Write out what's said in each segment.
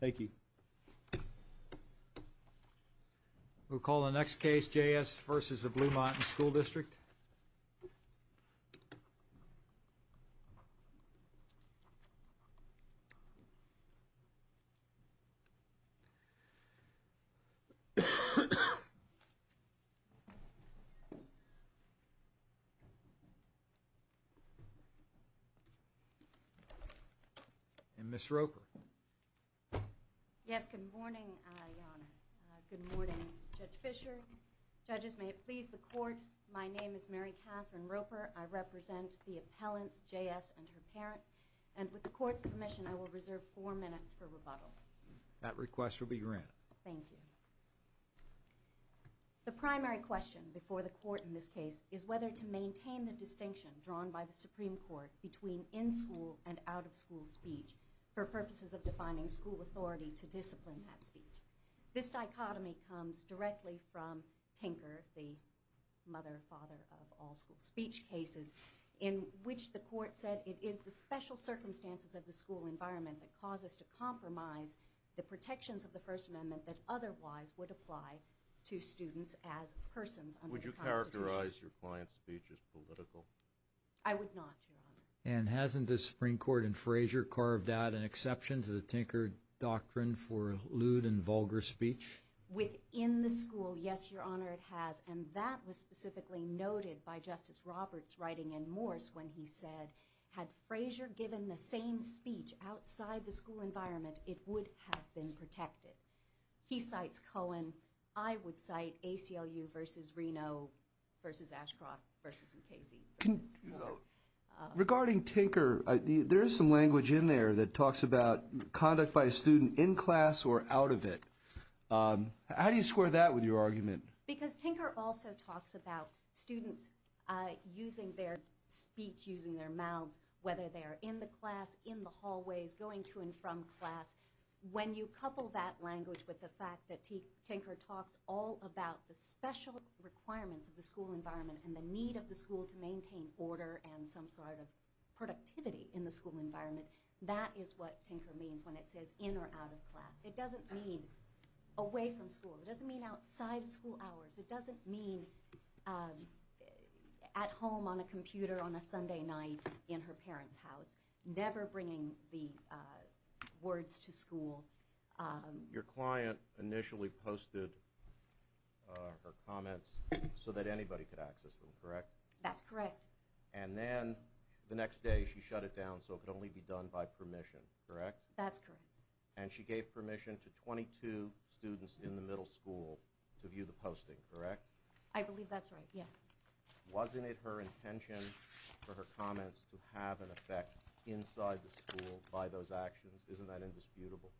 Thank you. We'll call the next case, J.S. versus the Blue Mountain School District. And Ms. Roper. Yes, good morning, Your Honor. Good morning, Judge Fischer. Judges, may it please the Court, my name is Mary Katherine Roper. I represent the appellants, J.S. and her parents. And with the Court's permission, I will reserve four minutes for rebuttal. That request will be granted. Thank you. This is a special case, drawn by the Supreme Court, between in-school and out-of-school speech for purposes of defining school authority to discipline that speech. This dichotomy comes directly from Tinker, the mother-father of all school speech cases, in which the Court said it is the special circumstances of the school environment that cause us to compromise the protections of the First Amendment that otherwise would apply to students as persons under the Constitution. Would you authorize your client's speech as political? I would not, Your Honor. And hasn't the Supreme Court in Frazier carved out an exception to the Tinker doctrine for lewd and vulgar speech? Within the school, yes, Your Honor, it has. And that was specifically noted by Justice Roberts writing in Morse when he said, had Frazier given the same speech outside the school environment, it would have been protected. He cites Cohen. I would cite ACLU v. Reno v. Ashcroft v. Mukasey v. Moore. Regarding Tinker, there is some language in there that talks about conduct by a student in class or out of it. How do you square that with your argument? Because Tinker also talks about students using their speech, using their mouths, whether they're in the class, in the hallways, going to and from class. When you couple that language with the fact that Tinker talks all about the special requirements of the school environment and the need of the school to maintain order and some sort of productivity in the school environment, that is what Tinker means when it says in or out of class. It doesn't mean away from school. It doesn't mean outside of school hours. It doesn't mean at home on a computer on a Sunday night in her parents' house, never bringing the words to school. Your client initially posted her comments so that anybody could access them, correct? That's correct. And then the next day she shut it down so it could only be done by permission, correct? That's correct. And she gave permission to 22 students in the middle school to view the posting, correct? I believe that's right, yes. Wasn't it her intention for her comments to have an effect inside the school by those actions? Isn't that indisputable?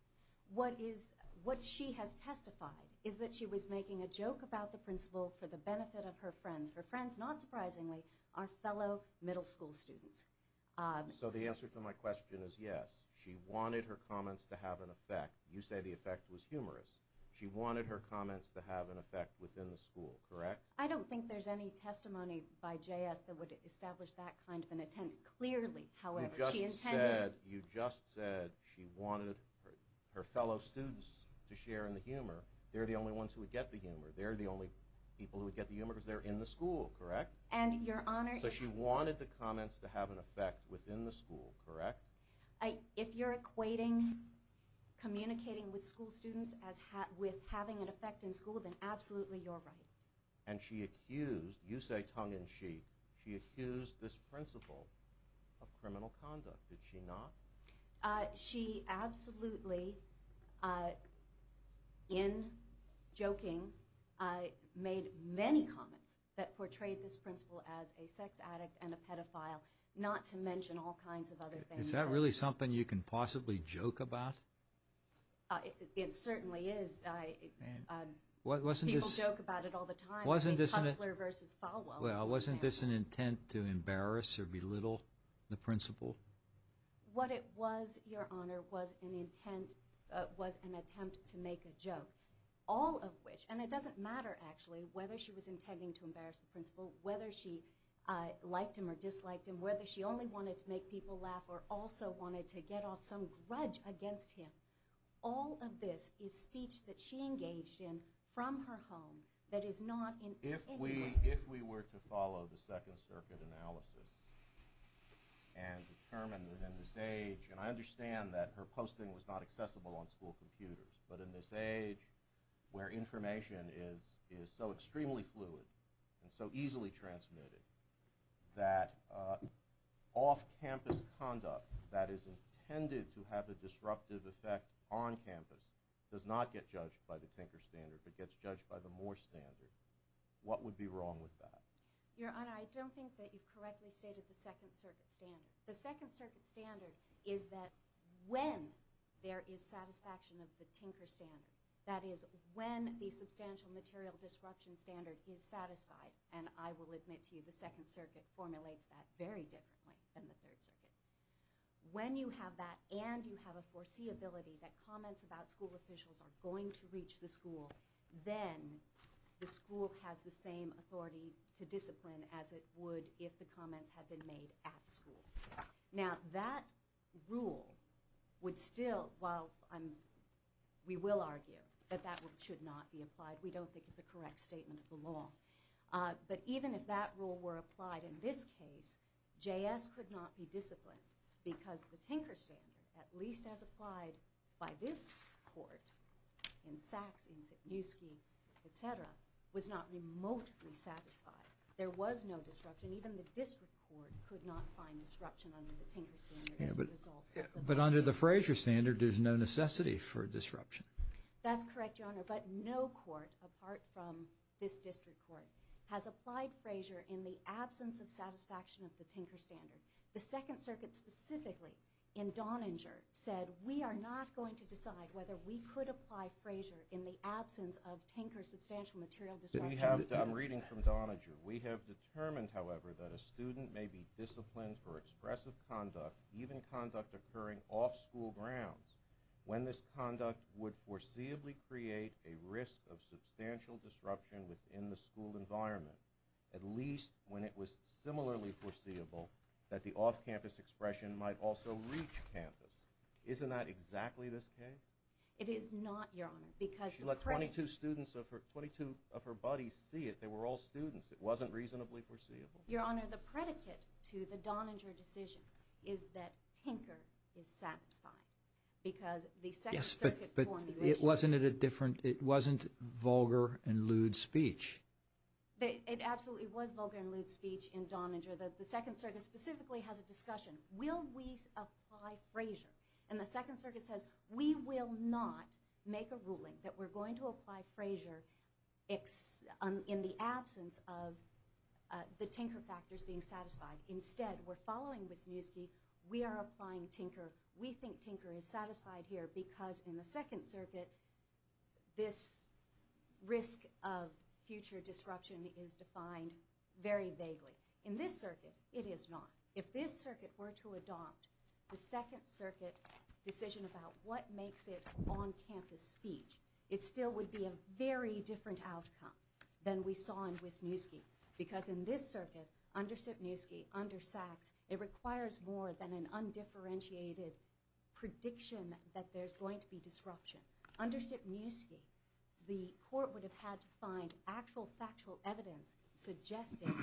What she has testified is that she was making a joke about the principal for the benefit of her friends. Her friends, not surprisingly, are fellow middle school students. So the answer to my question is yes. She wanted her comments to have an effect. You say the effect was humorous. She wanted her comments to have an effect within the school, correct? I don't think there's any testimony by JS that would establish that kind of an intent. Clearly, however, she intended... You just said she wanted her fellow students to share in the humor. They're the only ones who would get the humor. They're the only people who would get the humor because they're in the school, correct? And, Your Honor... So she wanted the comments to have an effect within the school, correct? If you're equating communicating with school students with having an effect in school, then absolutely you're right. And she accused, you say tongue-in-cheek, she accused this principal of criminal conduct. Did she not? She absolutely, in joking, made many comments that portrayed this principal as a sex addict and a pedophile, not to mention all kinds of other things. Is that really something you can possibly joke about? It certainly is. People joke about it all the time. Wasn't this an intent to embarrass or belittle the principal? What it was, Your Honor, was an intent, was an attempt to make a joke. All of which, and it doesn't matter actually whether she was intending to embarrass the principal, whether she liked him or disliked him, whether she only wanted to make people laugh or also wanted to get off some grudge against him. All of this is speech that she engaged in from her home that is not in any way... If we were to follow the Second Circuit analysis and determine that in this age, and I understand that her posting was not accessible on school computers, but in this age where information is so extremely fluid and so easily transmitted that off-campus conduct that is intended to have a disruptive effect on campus does not get judged by the Tinker Standard, but gets judged by the Moore Standard, what would be wrong with that? Your Honor, I don't think that you've correctly stated the Second Circuit Standard. The Second Circuit Standard is that when there is satisfaction of the Tinker Standard, that is when the Substantial Material Disruption Standard is satisfied, and I will admit to you the Second Circuit formulates that very differently than the Third Circuit. When you have that and you have a foreseeability that comments about school officials are going to reach the school, then the school has the same authority to discipline as it would if the comments had been made at school. Now that rule would still, while we will argue that that should not be applied, but we don't think it's a correct statement of the law. But even if that rule were applied in this case, JS could not be disciplined because the Tinker Standard, at least as applied by this Court in Sachs, in Sitniewski, et cetera, was not remotely satisfied. There was no disruption. Even the District Court could not find disruption under the Tinker Standard as a result. But under the Frazier Standard, there's no necessity for disruption. That's correct, Your Honor, but no court apart from this District Court has applied Frazier in the absence of satisfaction of the Tinker Standard. The Second Circuit specifically, in Donninger, said we are not going to decide whether we could apply Frazier in the absence of Tinker Substantial Material Disruption. We have, I'm reading from Donninger, we have determined, however, that a student may be disciplined for expressive conduct, even conduct occurring off school grounds, when this conduct would foreseeably create a risk of substantial disruption within the school environment, at least when it was similarly foreseeable that the off-campus expression might also reach campus. Isn't that exactly this case? It is not, Your Honor. She let 22 of her buddies see it. They were all students. It wasn't reasonably foreseeable. Your Honor, the predicate to the Donninger decision is that Tinker is satisfying. Yes, but it wasn't vulgar and lewd speech. It absolutely was vulgar and lewd speech in Donninger. The Second Circuit specifically has a discussion, will we apply Frazier? And the Second Circuit says, we will not make a ruling that we're going to apply Frazier in the absence of the Tinker factors being satisfied. Instead, we're following Wisniewski. We are applying Tinker. We think Tinker is satisfied here because in the Second Circuit, this risk of future disruption is defined very vaguely. In this circuit, it is not. If this circuit were to adopt the Second Circuit decision about what makes it on-campus speech, it still would be a very different outcome than we saw in Wisniewski because in this circuit, under Sipniewski, under Sachs, it requires more than an undifferentiated prediction that there's going to be disruption. Under Sipniewski, the court would have had to find actual factual evidence suggesting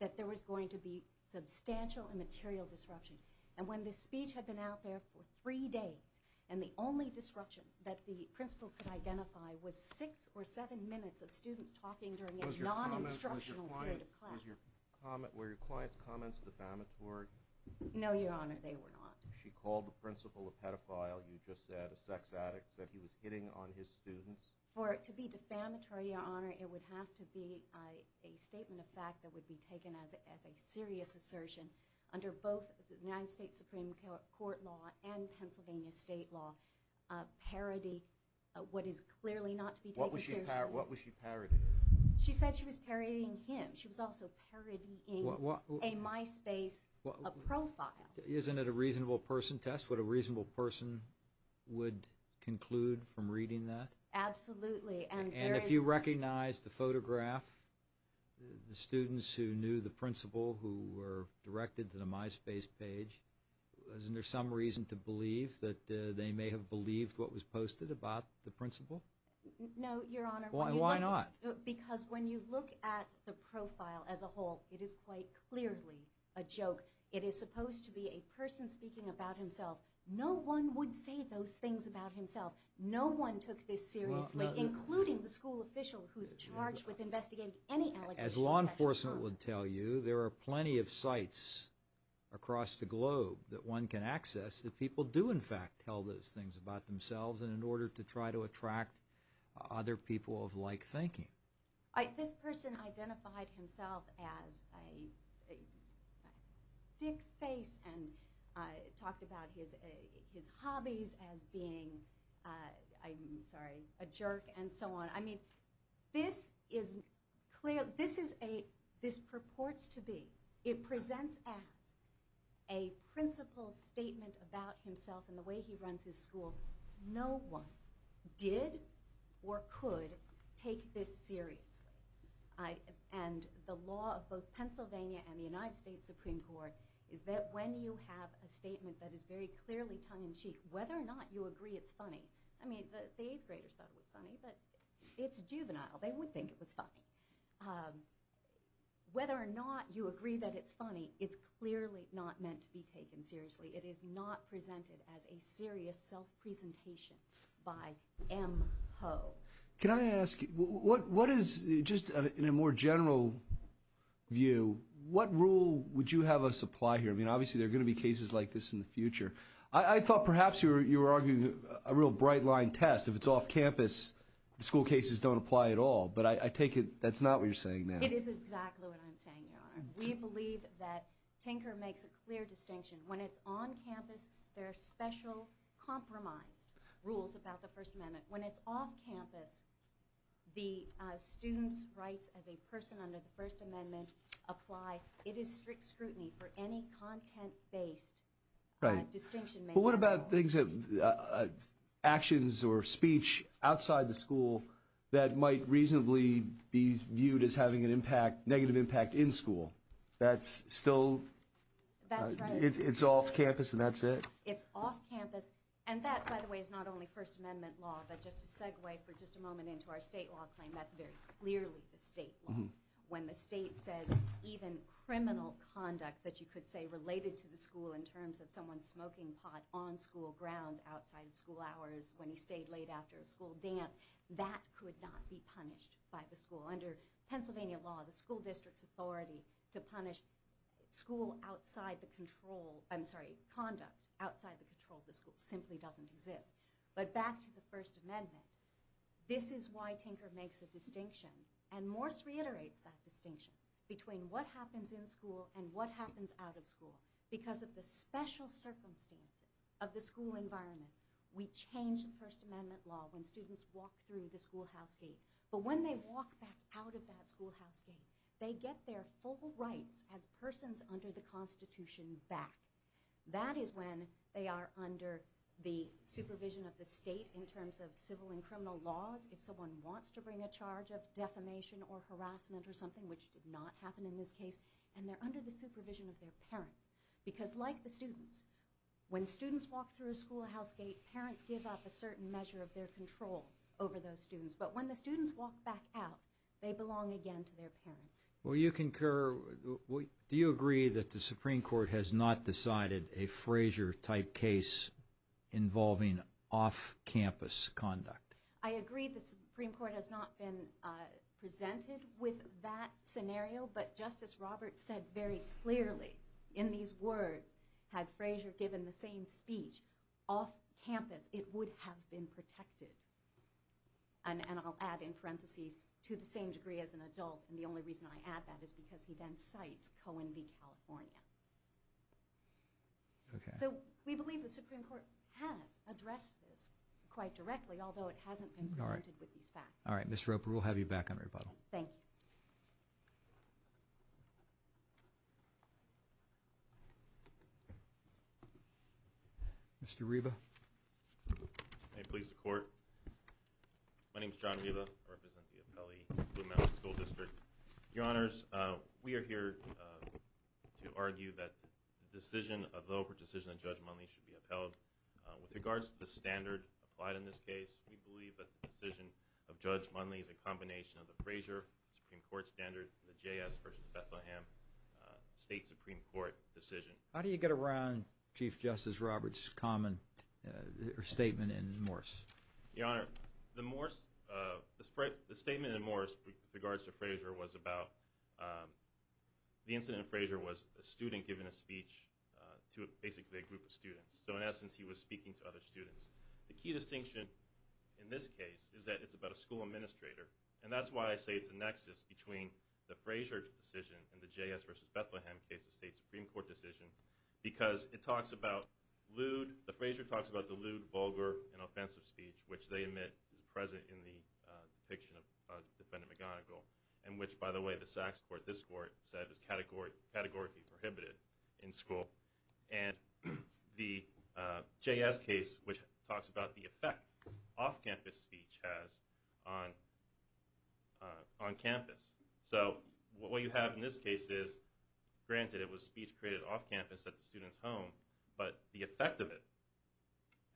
that there was going to be substantial immaterial disruption. And when this speech had been out there for three days and the only disruption that the principal could identify was six or seven minutes of students talking during a non-instructional period of class... Were your client's comments defamatory? No, Your Honor, they were not. She called the principal a pedophile. You just said a sex addict. Said he was hitting on his students. For it to be defamatory, Your Honor, it would have to be a statement of fact that would be taken as a serious assertion under both the United States Supreme Court law and Pennsylvania state law, parody what is clearly not to be taken seriously. What was she parodying? She said she was parodying him. She was also parodying a MySpace profile. Isn't it a reasonable person test what a reasonable person would conclude from reading that? Absolutely. And if you recognize the photograph, the students who knew the principal who were directed to the MySpace page, isn't there some reason to believe that they may have believed what was posted about the principal? No, Your Honor. Why not? Because when you look at the profile as a whole, it is quite clearly a joke. It is supposed to be a person speaking about himself. No one would say those things about himself. No one took this seriously, including the school official who's charged with investigating any allegations. As law enforcement would tell you, there are plenty of sites across the globe that one can access that people do, in fact, tell those things about themselves, and in order to try to attract other people of like thinking. This person identified himself as a dick face and talked about his hobbies as being, I'm sorry, a jerk and so on. I mean, this is clearly, this purports to be, it presents as a principal's statement about himself and the way he runs his school. No one did or could take this seriously. And the law of both Pennsylvania and the United States Supreme Court is that when you have a statement that is very clearly tongue-in-cheek, whether or not you agree it's funny, I mean, the eighth graders thought it was funny, but it's juvenile. They would think it was funny. Whether or not you agree that it's funny, it's clearly not meant to be taken seriously. It is not presented as a serious self-presentation by M. Ho. Can I ask, what is, just in a more general view, what rule would you have us apply here? I mean, obviously there are going to be cases like this in the future. I thought perhaps you were arguing a real bright-line test. If it's off campus, the school cases don't apply at all. But I take it that's not what you're saying now. It is exactly what I'm saying, Your Honor. We believe that Tinker makes a clear distinction. When it's on campus, there are special compromised rules about the First Amendment. When it's off campus, the student's rights as a person under the First Amendment apply. It is strict scrutiny for any content-based distinction. But what about actions or speech outside the school that might reasonably be viewed as having a negative impact in school? That's still... That's right. It's off campus, and that's it? It's off campus. And that, by the way, is not only First Amendment law, but just to segue for just a moment into our state law claim, that's very clearly the state law. When the state says even criminal conduct that you could say related to the school in terms of someone smoking pot on school grounds outside of school hours when he stayed late after a school dance, that could not be punished by the school. Under Pennsylvania law, the school district's authority to punish school outside the control... I'm sorry, conduct outside the control of the school simply doesn't exist. But back to the First Amendment, this is why Tinker makes a distinction, and Morse reiterates that distinction between what happens in school and what happens out of school. Because of the special circumstances of the school environment, we change the First Amendment law when students walk through the schoolhouse gate. But when they walk back out of that schoolhouse gate, they get their full rights as persons under the Constitution back. That is when they are under the supervision of the state in terms of civil and criminal laws if someone wants to bring a charge of defamation or harassment or something, which did not happen in this case, and they're under the supervision of their parents. Because like the students, when students walk through a schoolhouse gate, parents give up a certain measure of their control over those students. But when the students walk back out, they belong again to their parents. Well, you concur. Do you agree that the Supreme Court has not decided a Frazier-type case involving off-campus conduct? I agree the Supreme Court has not been presented with that scenario, but Justice Roberts said very clearly in these words, had Frazier given the same speech off-campus, it would have been protected. And I'll add in parentheses, to the same degree as an adult, and the only reason I add that is because he then cites Cohen v. California. So we believe the Supreme Court has addressed this quite directly, although it hasn't been presented with these facts. All right, Ms. Roper, we'll have you back on rebuttal. Thank you. Thank you. Mr. Riva. May it please the Court. My name is John Riva. I represent the Appellee Blue Mountain School District. Your Honors, we are here to argue that the decision, although the decision of Judge Munley should be upheld, with regards to the standard applied in this case, we believe that the decision of Judge Munley is a combination of the Frazier Supreme Court standard and the J.S. v. Bethlehem State Supreme Court decision. How do you get around Chief Justice Roberts' statement in Morse? Your Honor, the statement in Morse with regards to Frazier was about the incident of Frazier was a student giving a speech to basically a group of students. So in essence, he was speaking to other students. The key distinction in this case is that it's about a school administrator, and that's why I say it's a nexus between the Frazier decision and the J.S. v. Bethlehem case, the State Supreme Court decision, because it talks about lewd, the Frazier talks about lewd, vulgar, and offensive speech, which they admit is present in the depiction of Defendant McGonigal, and which, by the way, the Sachs Court, this Court, said is categorically prohibited in school. And the J.S. case, which talks about the effect off-campus speech has on campus. So what you have in this case is, granted, it was speech created off-campus at the student's home, but the effect of it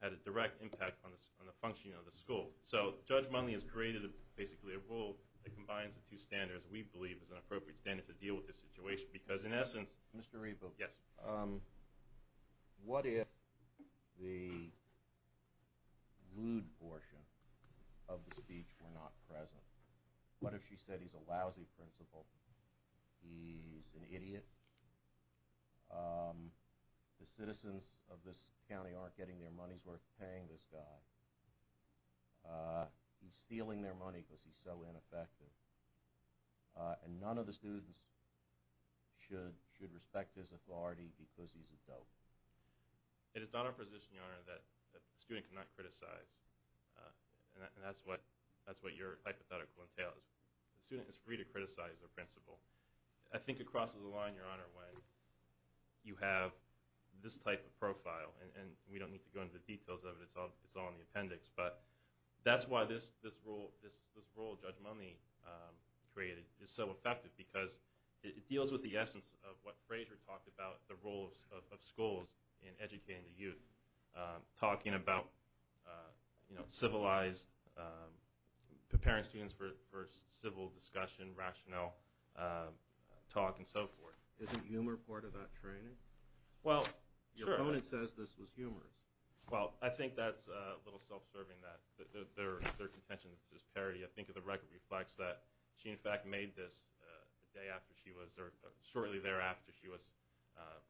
had a direct impact on the functioning of the school. So Judge Munley has created basically a rule that combines the two standards we believe is an appropriate standard to deal with this situation, because in essence... Mr. Rebo, what if the lewd portion of the speech were not present? What if she said he's a lousy principal, he's an idiot, the citizens of this county aren't getting their money's worth paying this guy, he's stealing their money because he's so ineffective, and none of the students should respect his authority because he's a dope? It is not our position, Your Honor, that a student cannot criticize, and that's what your hypothetical entails. A student is free to criticize their principal. I think it crosses the line, Your Honor, when you have this type of profile, and we don't need to go into the details of it, it's all in the appendix, but that's why this rule Judge Munley created is so effective, because it deals with the essence of what Frazier talked about, the role of schools in educating the youth, talking about civilized, preparing students for civil discussion, rationale, talk, and so forth. Is the humor part of that training? Well, sure. Your opponent says this was humorous. Well, I think that's a little self-serving that their contention that this is parody. I think the record reflects that she, in fact, made this shortly thereafter she was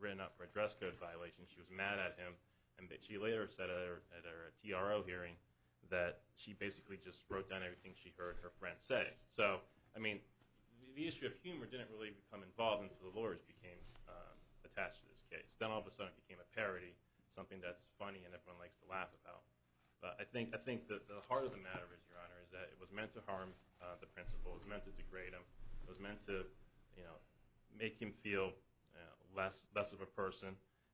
written up for address code violation. She was mad at him, and she later said at her TRO hearing that she basically just wrote down everything she heard her friend say. So, I mean, the issue of humor didn't really become involved until the lawyers became attached to this case. Then all of a sudden it became a parody, something that's funny and everyone likes to laugh about. But I think the heart of the matter is, Your Honor, is that it was meant to harm the principal. It was meant to degrade him. It was meant to make him feel less of a person.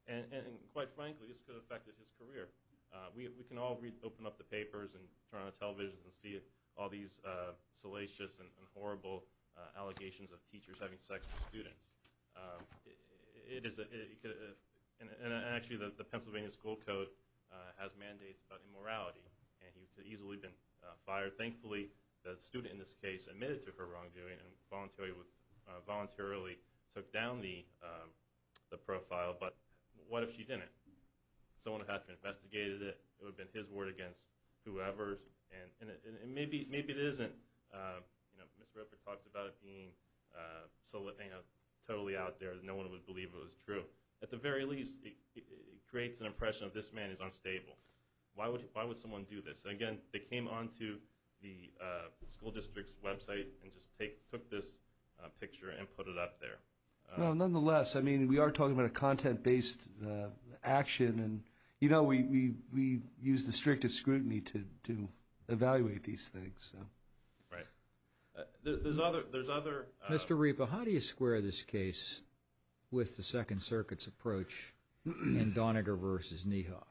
And quite frankly, this could have affected his career. We can all open up the papers and turn on the television and see all these salacious and horrible allegations of teachers having sex with students. And actually, the Pennsylvania school code has mandates about immorality, and he could have easily been fired. Thankfully, the student in this case admitted to her wrongdoing and voluntarily took down the profile. But what if she didn't? Someone would have to have investigated it. It would have been his word against whoever's. And maybe it isn't. Mr. Ripper talked about it being totally out there. No one would believe it was true. At the very least, it creates an impression that this man is unstable. Why would someone do this? Again, they came onto the school district's website and just took this picture and put it up there. Nonetheless, we are talking about a content-based action. And, you know, we use the strictest scrutiny to evaluate these things. Right. There's other— Mr. Ripper, how do you square this case with the Second Circuit's approach in Doniger v. Niehoff?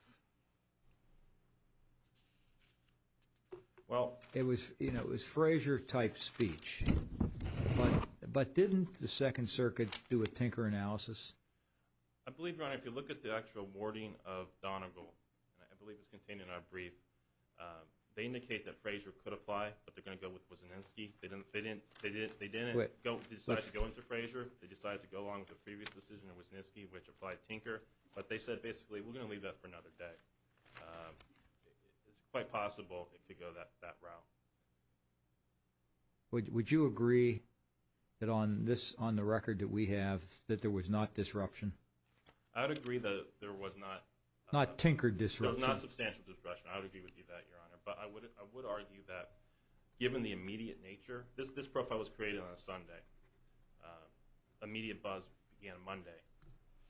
Well— It was, you know, it was Frazier-type speech. But didn't the Second Circuit do a tinker analysis? I believe, Your Honor, if you look at the actual wording of Doniger, and I believe it's contained in our brief, they indicate that Frazier could apply, but they're going to go with Wisniewski. They didn't decide to go into Frazier. They decided to go along with the previous decision in Wisniewski, which applied tinker. But they said, basically, we're going to leave that for another day. It's quite possible it could go that route. Would you agree that on this—on the record that we have, that there was not disruption? I would agree that there was not— Not tinkered disruption. There was not substantial disruption. I would agree with you on that, Your Honor. But I would argue that given the immediate nature—this profile was created on a Sunday. Immediate buzz began Monday.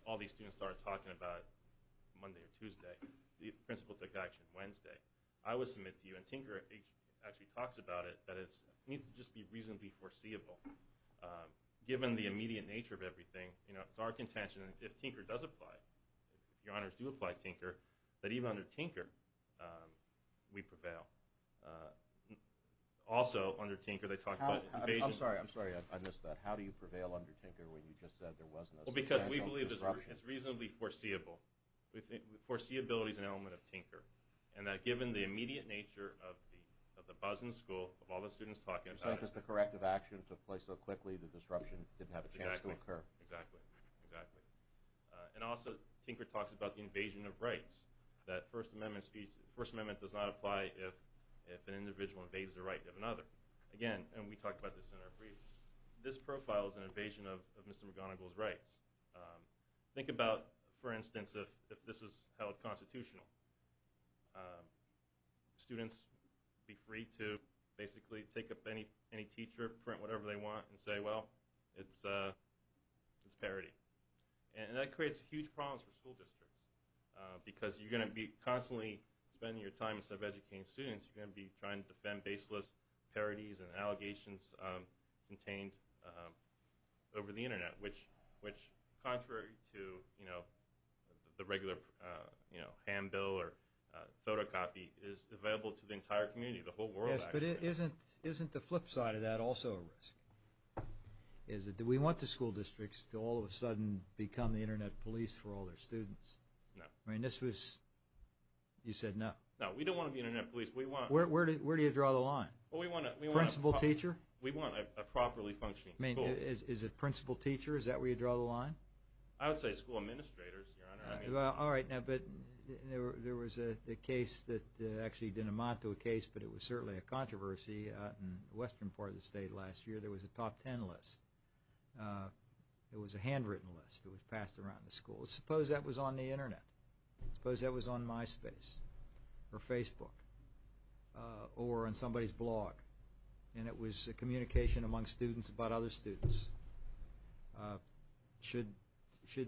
All these students started talking about Monday or Tuesday. The principal took action Wednesday. I would submit to you, and Tinker actually talks about it, that it needs to just be reasonably foreseeable. Given the immediate nature of everything, it's our contention that if tinker does apply, if Your Honors do apply tinker, that even under tinker, we prevail. Also, under tinker, they talked about— I'm sorry. I missed that. How do you prevail under tinker when you just said there was no substantial disruption? Well, because we believe it's reasonably foreseeable. Foreseeability is an element of tinker. And given the immediate nature of the buzz in the school, of all the students talking about it— It's not just the corrective action that took place so quickly, the disruption didn't have a chance to occur. Exactly. Exactly. And also, Tinker talks about the invasion of rights, that First Amendment does not apply if an individual invades the right of another. Again, and we talked about this in our brief, this profile is an invasion of Mr. McGonigal's rights. Think about, for instance, if this was held constitutional. Students would be free to basically take up any teacher, print whatever they want, and say, well, it's parody. And that creates huge problems for school districts. Because you're going to be constantly spending your time sub-educating students. You're going to be trying to defend baseless parodies and allegations contained over the Internet, which, contrary to the regular hand bill or photocopy, is available to the entire community, the whole world, actually. Yes, but isn't the flip side of that also a risk? Do we want the school districts to all of a sudden become the Internet police for all their students? No. I mean, this was—you said no. No, we don't want to be Internet police. We want— Where do you draw the line? Well, we want a— Principal teacher? We want a properly functioning school. I mean, is it principal teacher? Is that where you draw the line? I would say school administrators, Your Honor. All right, now, but there was a case that actually didn't amount to a case, but it was certainly a controversy in the western part of the state last year. There was a top ten list. It was a handwritten list that was passed around the school. Suppose that was on the Internet. Suppose that was on MySpace or Facebook or on somebody's blog, and it was a communication among students about other students. Should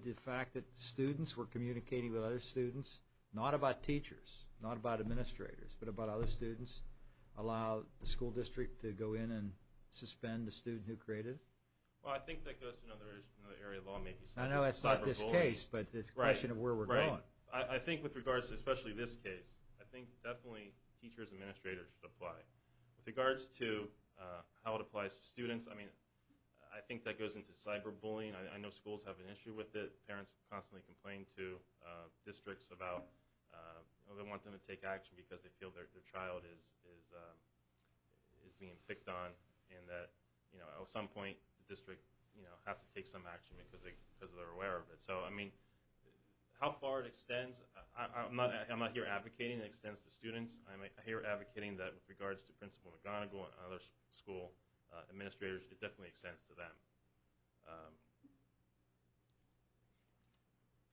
the fact that students were communicating with other students, not about teachers, not about administrators, but about other students, allow the school district to go in and suspend the student who created it? Well, I think that goes to another area of lawmaking. I know that's not this case, but it's a question of where we're going. Right, right. I think with regards to especially this case, I think definitely teachers and administrators should apply. With regards to how it applies to students, I mean, I think that goes into cyberbullying. I know schools have an issue with it. Parents constantly complain to districts about, they want them to take action because they feel their child is being picked on and that at some point the district has to take some action because they're aware of it. So, I mean, how far it extends, I'm not here advocating it extends to students. I'm here advocating that with regards to Principal McGonigal and other school administrators, it definitely extends to them.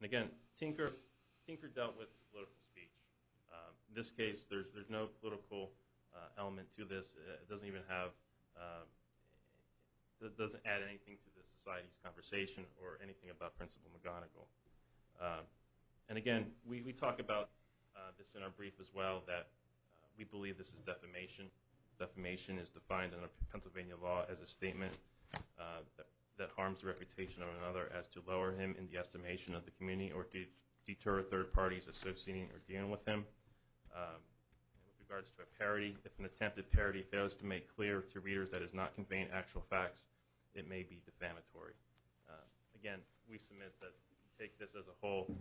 And again, Tinker dealt with political speech. In this case, there's no political element to this. It doesn't even have, it doesn't add anything to the society's conversation or anything about Principal McGonigal. And again, we talk about this in our brief as well, that we believe this is defamation. Defamation is defined under Pennsylvania law as a statement that harms the reputation of another as to lower him in the estimation of the community or to deter third parties associating or dealing with him. With regards to a parody, if an attempted parody fails to make clear to readers that it's not conveying actual facts, it may be defamatory. Again, we submit that we take this as a whole.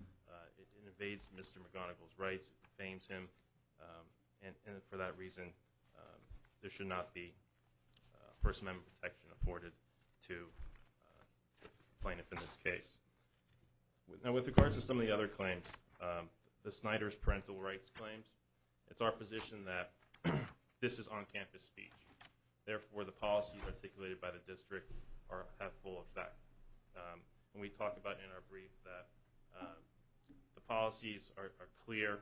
It invades Mr. McGonigal's rights, defames him, and for that reason there should not be First Amendment protection afforded to the plaintiff in this case. Now, with regards to some of the other claims, the Snyder's parental rights claims, it's our position that this is on-campus speech. Therefore, the policies articulated by the district have full effect. We talk about in our brief that the policies are clear,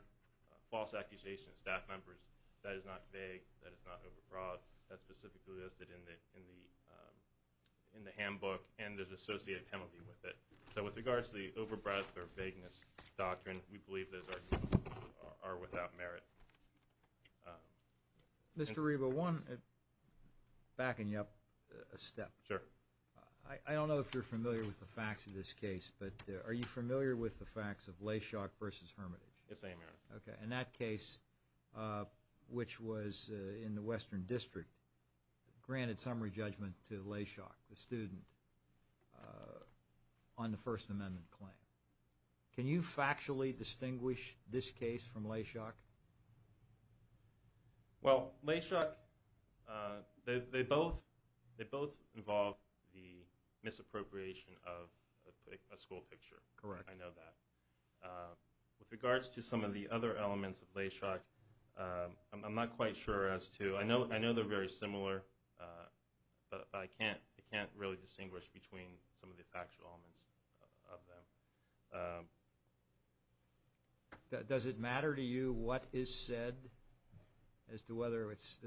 false accusations of staff members. That is not vague. That is not over-broad. That's specifically listed in the handbook, and there's associated penalty with it. So with regards to the over-broad or vagueness doctrine, we believe those arguments are without merit. Mr. Arriba, I want to back you up a step. Sure. I don't know if you're familiar with the facts of this case, but are you familiar with the facts of Layshock v. Hermitage? Yes, I am, Your Honor. Okay, and that case, which was in the Western District, granted summary judgment to Layshock, the student, on the First Amendment claim. Can you factually distinguish this case from Layshock? Well, Layshock, they both involve the misappropriation of a school picture. Correct. I know that. With regards to some of the other elements of Layshock, I'm not quite sure as to. I know they're very similar, but I can't really distinguish between some of the actual elements of them. Does it matter to you what is said as to whether it's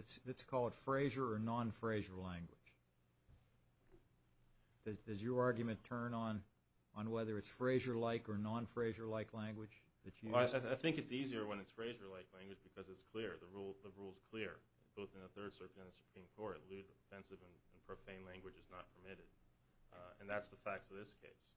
called Frazier or non-Frazier language? Does your argument turn on whether it's Frazier-like or non-Frazier-like language? I think it's easier when it's Frazier-like language because it's clear. The rule is clear. Both in the Third Circuit and the Supreme Court, lewd, offensive, and profane language is not permitted, and that's the facts of this case.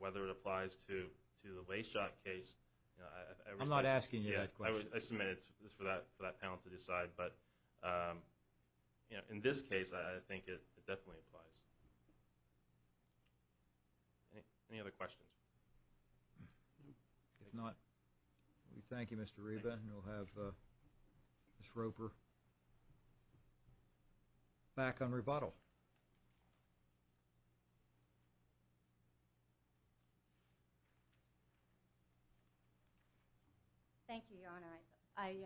Whether it applies to the Layshock case, I respect that. I'm not asking you that question. I submit it's for that panel to decide, but in this case, I think it definitely applies. Any other questions? If not, we thank you, Mr. Reba. Then we'll have Ms. Roper back on rebuttal. Thank you, Your Honor.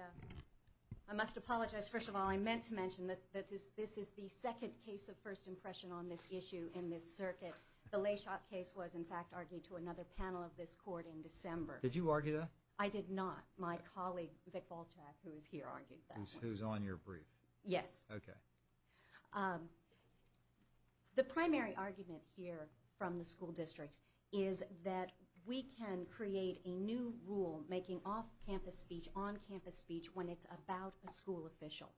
I must apologize. First of all, I meant to mention that this is the second case of first impression on this issue in this circuit. The Layshock case was, in fact, argued to another panel of this court in December. Did you argue that? I did not. My colleague, Vic Volchak, who is here, argued that one. Who's on your brief? Yes. Okay. The primary argument here from the school district is that we can create a new rule making off-campus speech on-campus speech when it's about a school official.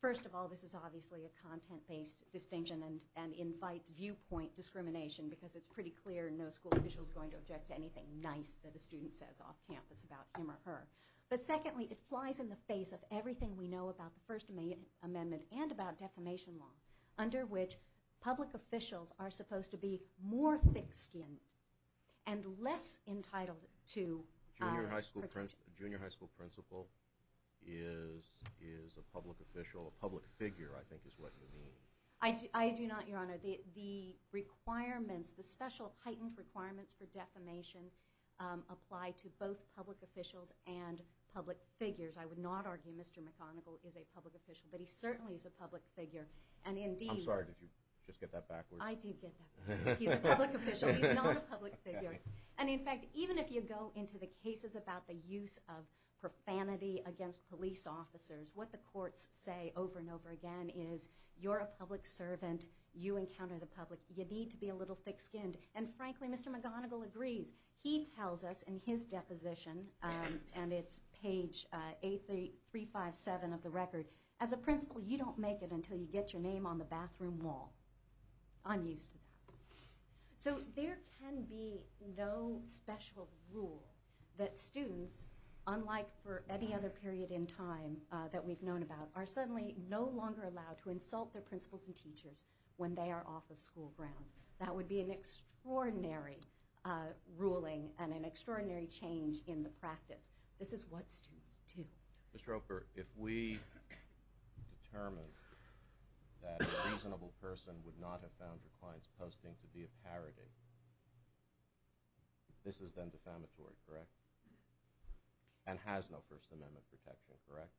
First of all, this is obviously a content-based distinction and invites viewpoint discrimination because it's pretty clear no school official is going to object to anything nice that a student says off-campus about him or her. But secondly, it flies in the face of everything we know about the First Amendment and about defamation law under which public officials are supposed to be more thick-skinned and less entitled to our protection. A junior high school principal is a public official, a public figure, I think is what you mean. I do not, Your Honor. The requirements, the special heightened requirements for defamation apply to both public officials and public figures. I would not argue Mr. McConnell is a public official, but he certainly is a public figure. I'm sorry, did you just get that backwards? I did get that backwards. He's a public official. He's not a public figure. In fact, even if you go into the cases about the use of profanity against police officers, what the courts say over and over again is you're a public servant. You encounter the public. You need to be a little thick-skinned. And frankly, Mr. McGonigal agrees. He tells us in his deposition, and it's page 8357 of the record, as a principal, you don't make it until you get your name on the bathroom wall. I'm used to that. So there can be no special rule that students, unlike for any other period in time that we've known about, are suddenly no longer allowed to insult their principals and teachers when they are off of school grounds. That would be an extraordinary ruling and an extraordinary change in the practice. This is what students do. Ms. Roper, if we determine that a reasonable person would not have found her client's posting to be a parody, this is then defamatory, correct? And has no First Amendment protection, correct?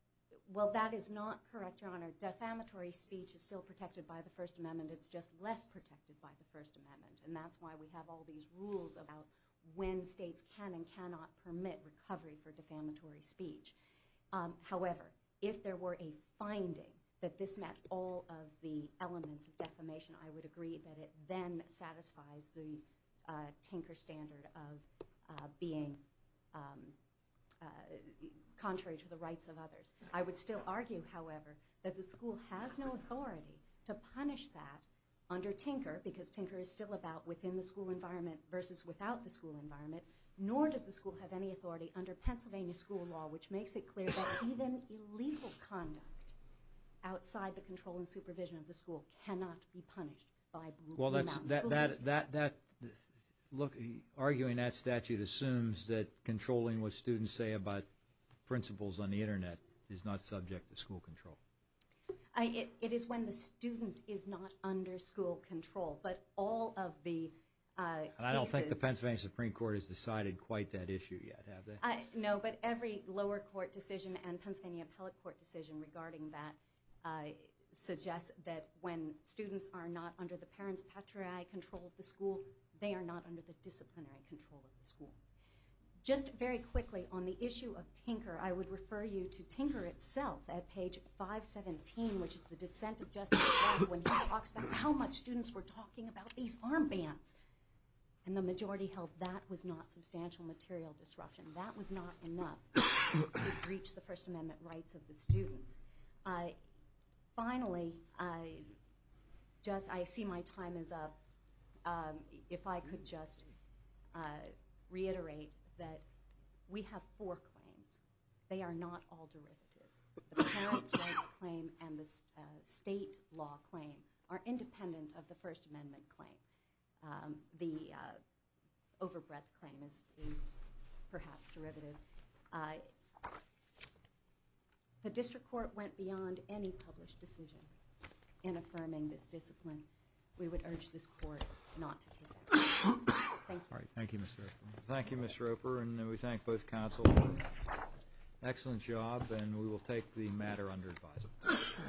Well, that is not correct, Your Honor. Defamatory speech is still protected by the First Amendment. It's just less protected by the First Amendment. And that's why we have all these rules about when states can and cannot permit recovery for defamatory speech. However, if there were a finding that this met all of the elements of defamation, I would agree that it then satisfies the Tinker standard of being contrary to the rights of others. I would still argue, however, that the school has no authority to punish that under Tinker, because Tinker is still about within the school environment versus without the school environment, nor does the school have any authority under Pennsylvania school law, which makes it clear that even illegal conduct outside the control and supervision of the school cannot be punished by Blue Mountain. Well, that's – look, arguing that statute assumes that controlling what students say about principals on the Internet is not subject to school control. It is when the student is not under school control, but all of the cases – I don't think the Pennsylvania Supreme Court has decided quite that issue yet, have they? No, but every lower court decision and Pennsylvania appellate court decision regarding that suggests that when students are not under the parents' patriarchal control of the school, they are not under the disciplinary control of the school. Just very quickly, on the issue of Tinker, I would refer you to Tinker itself at page 517, which is the dissent of Justice Breyer when he talks about how much students were talking about these armbands. And the majority held that was not substantial material disruption. That was not enough to breach the First Amendment rights of the students. Finally, I just – I see my time is up. If I could just reiterate that we have four claims. They are not all derivative. The parents' rights claim and the state law claim are independent of the First Amendment claim. The overbreadth claim is perhaps derivative. The district court went beyond any published decision in affirming this discipline. We would urge this court not to take it. Thank you. All right, thank you, Ms. Roper. Thank you, Ms. Roper. And we thank both counsels for an excellent job. And we will take the matter under advisory.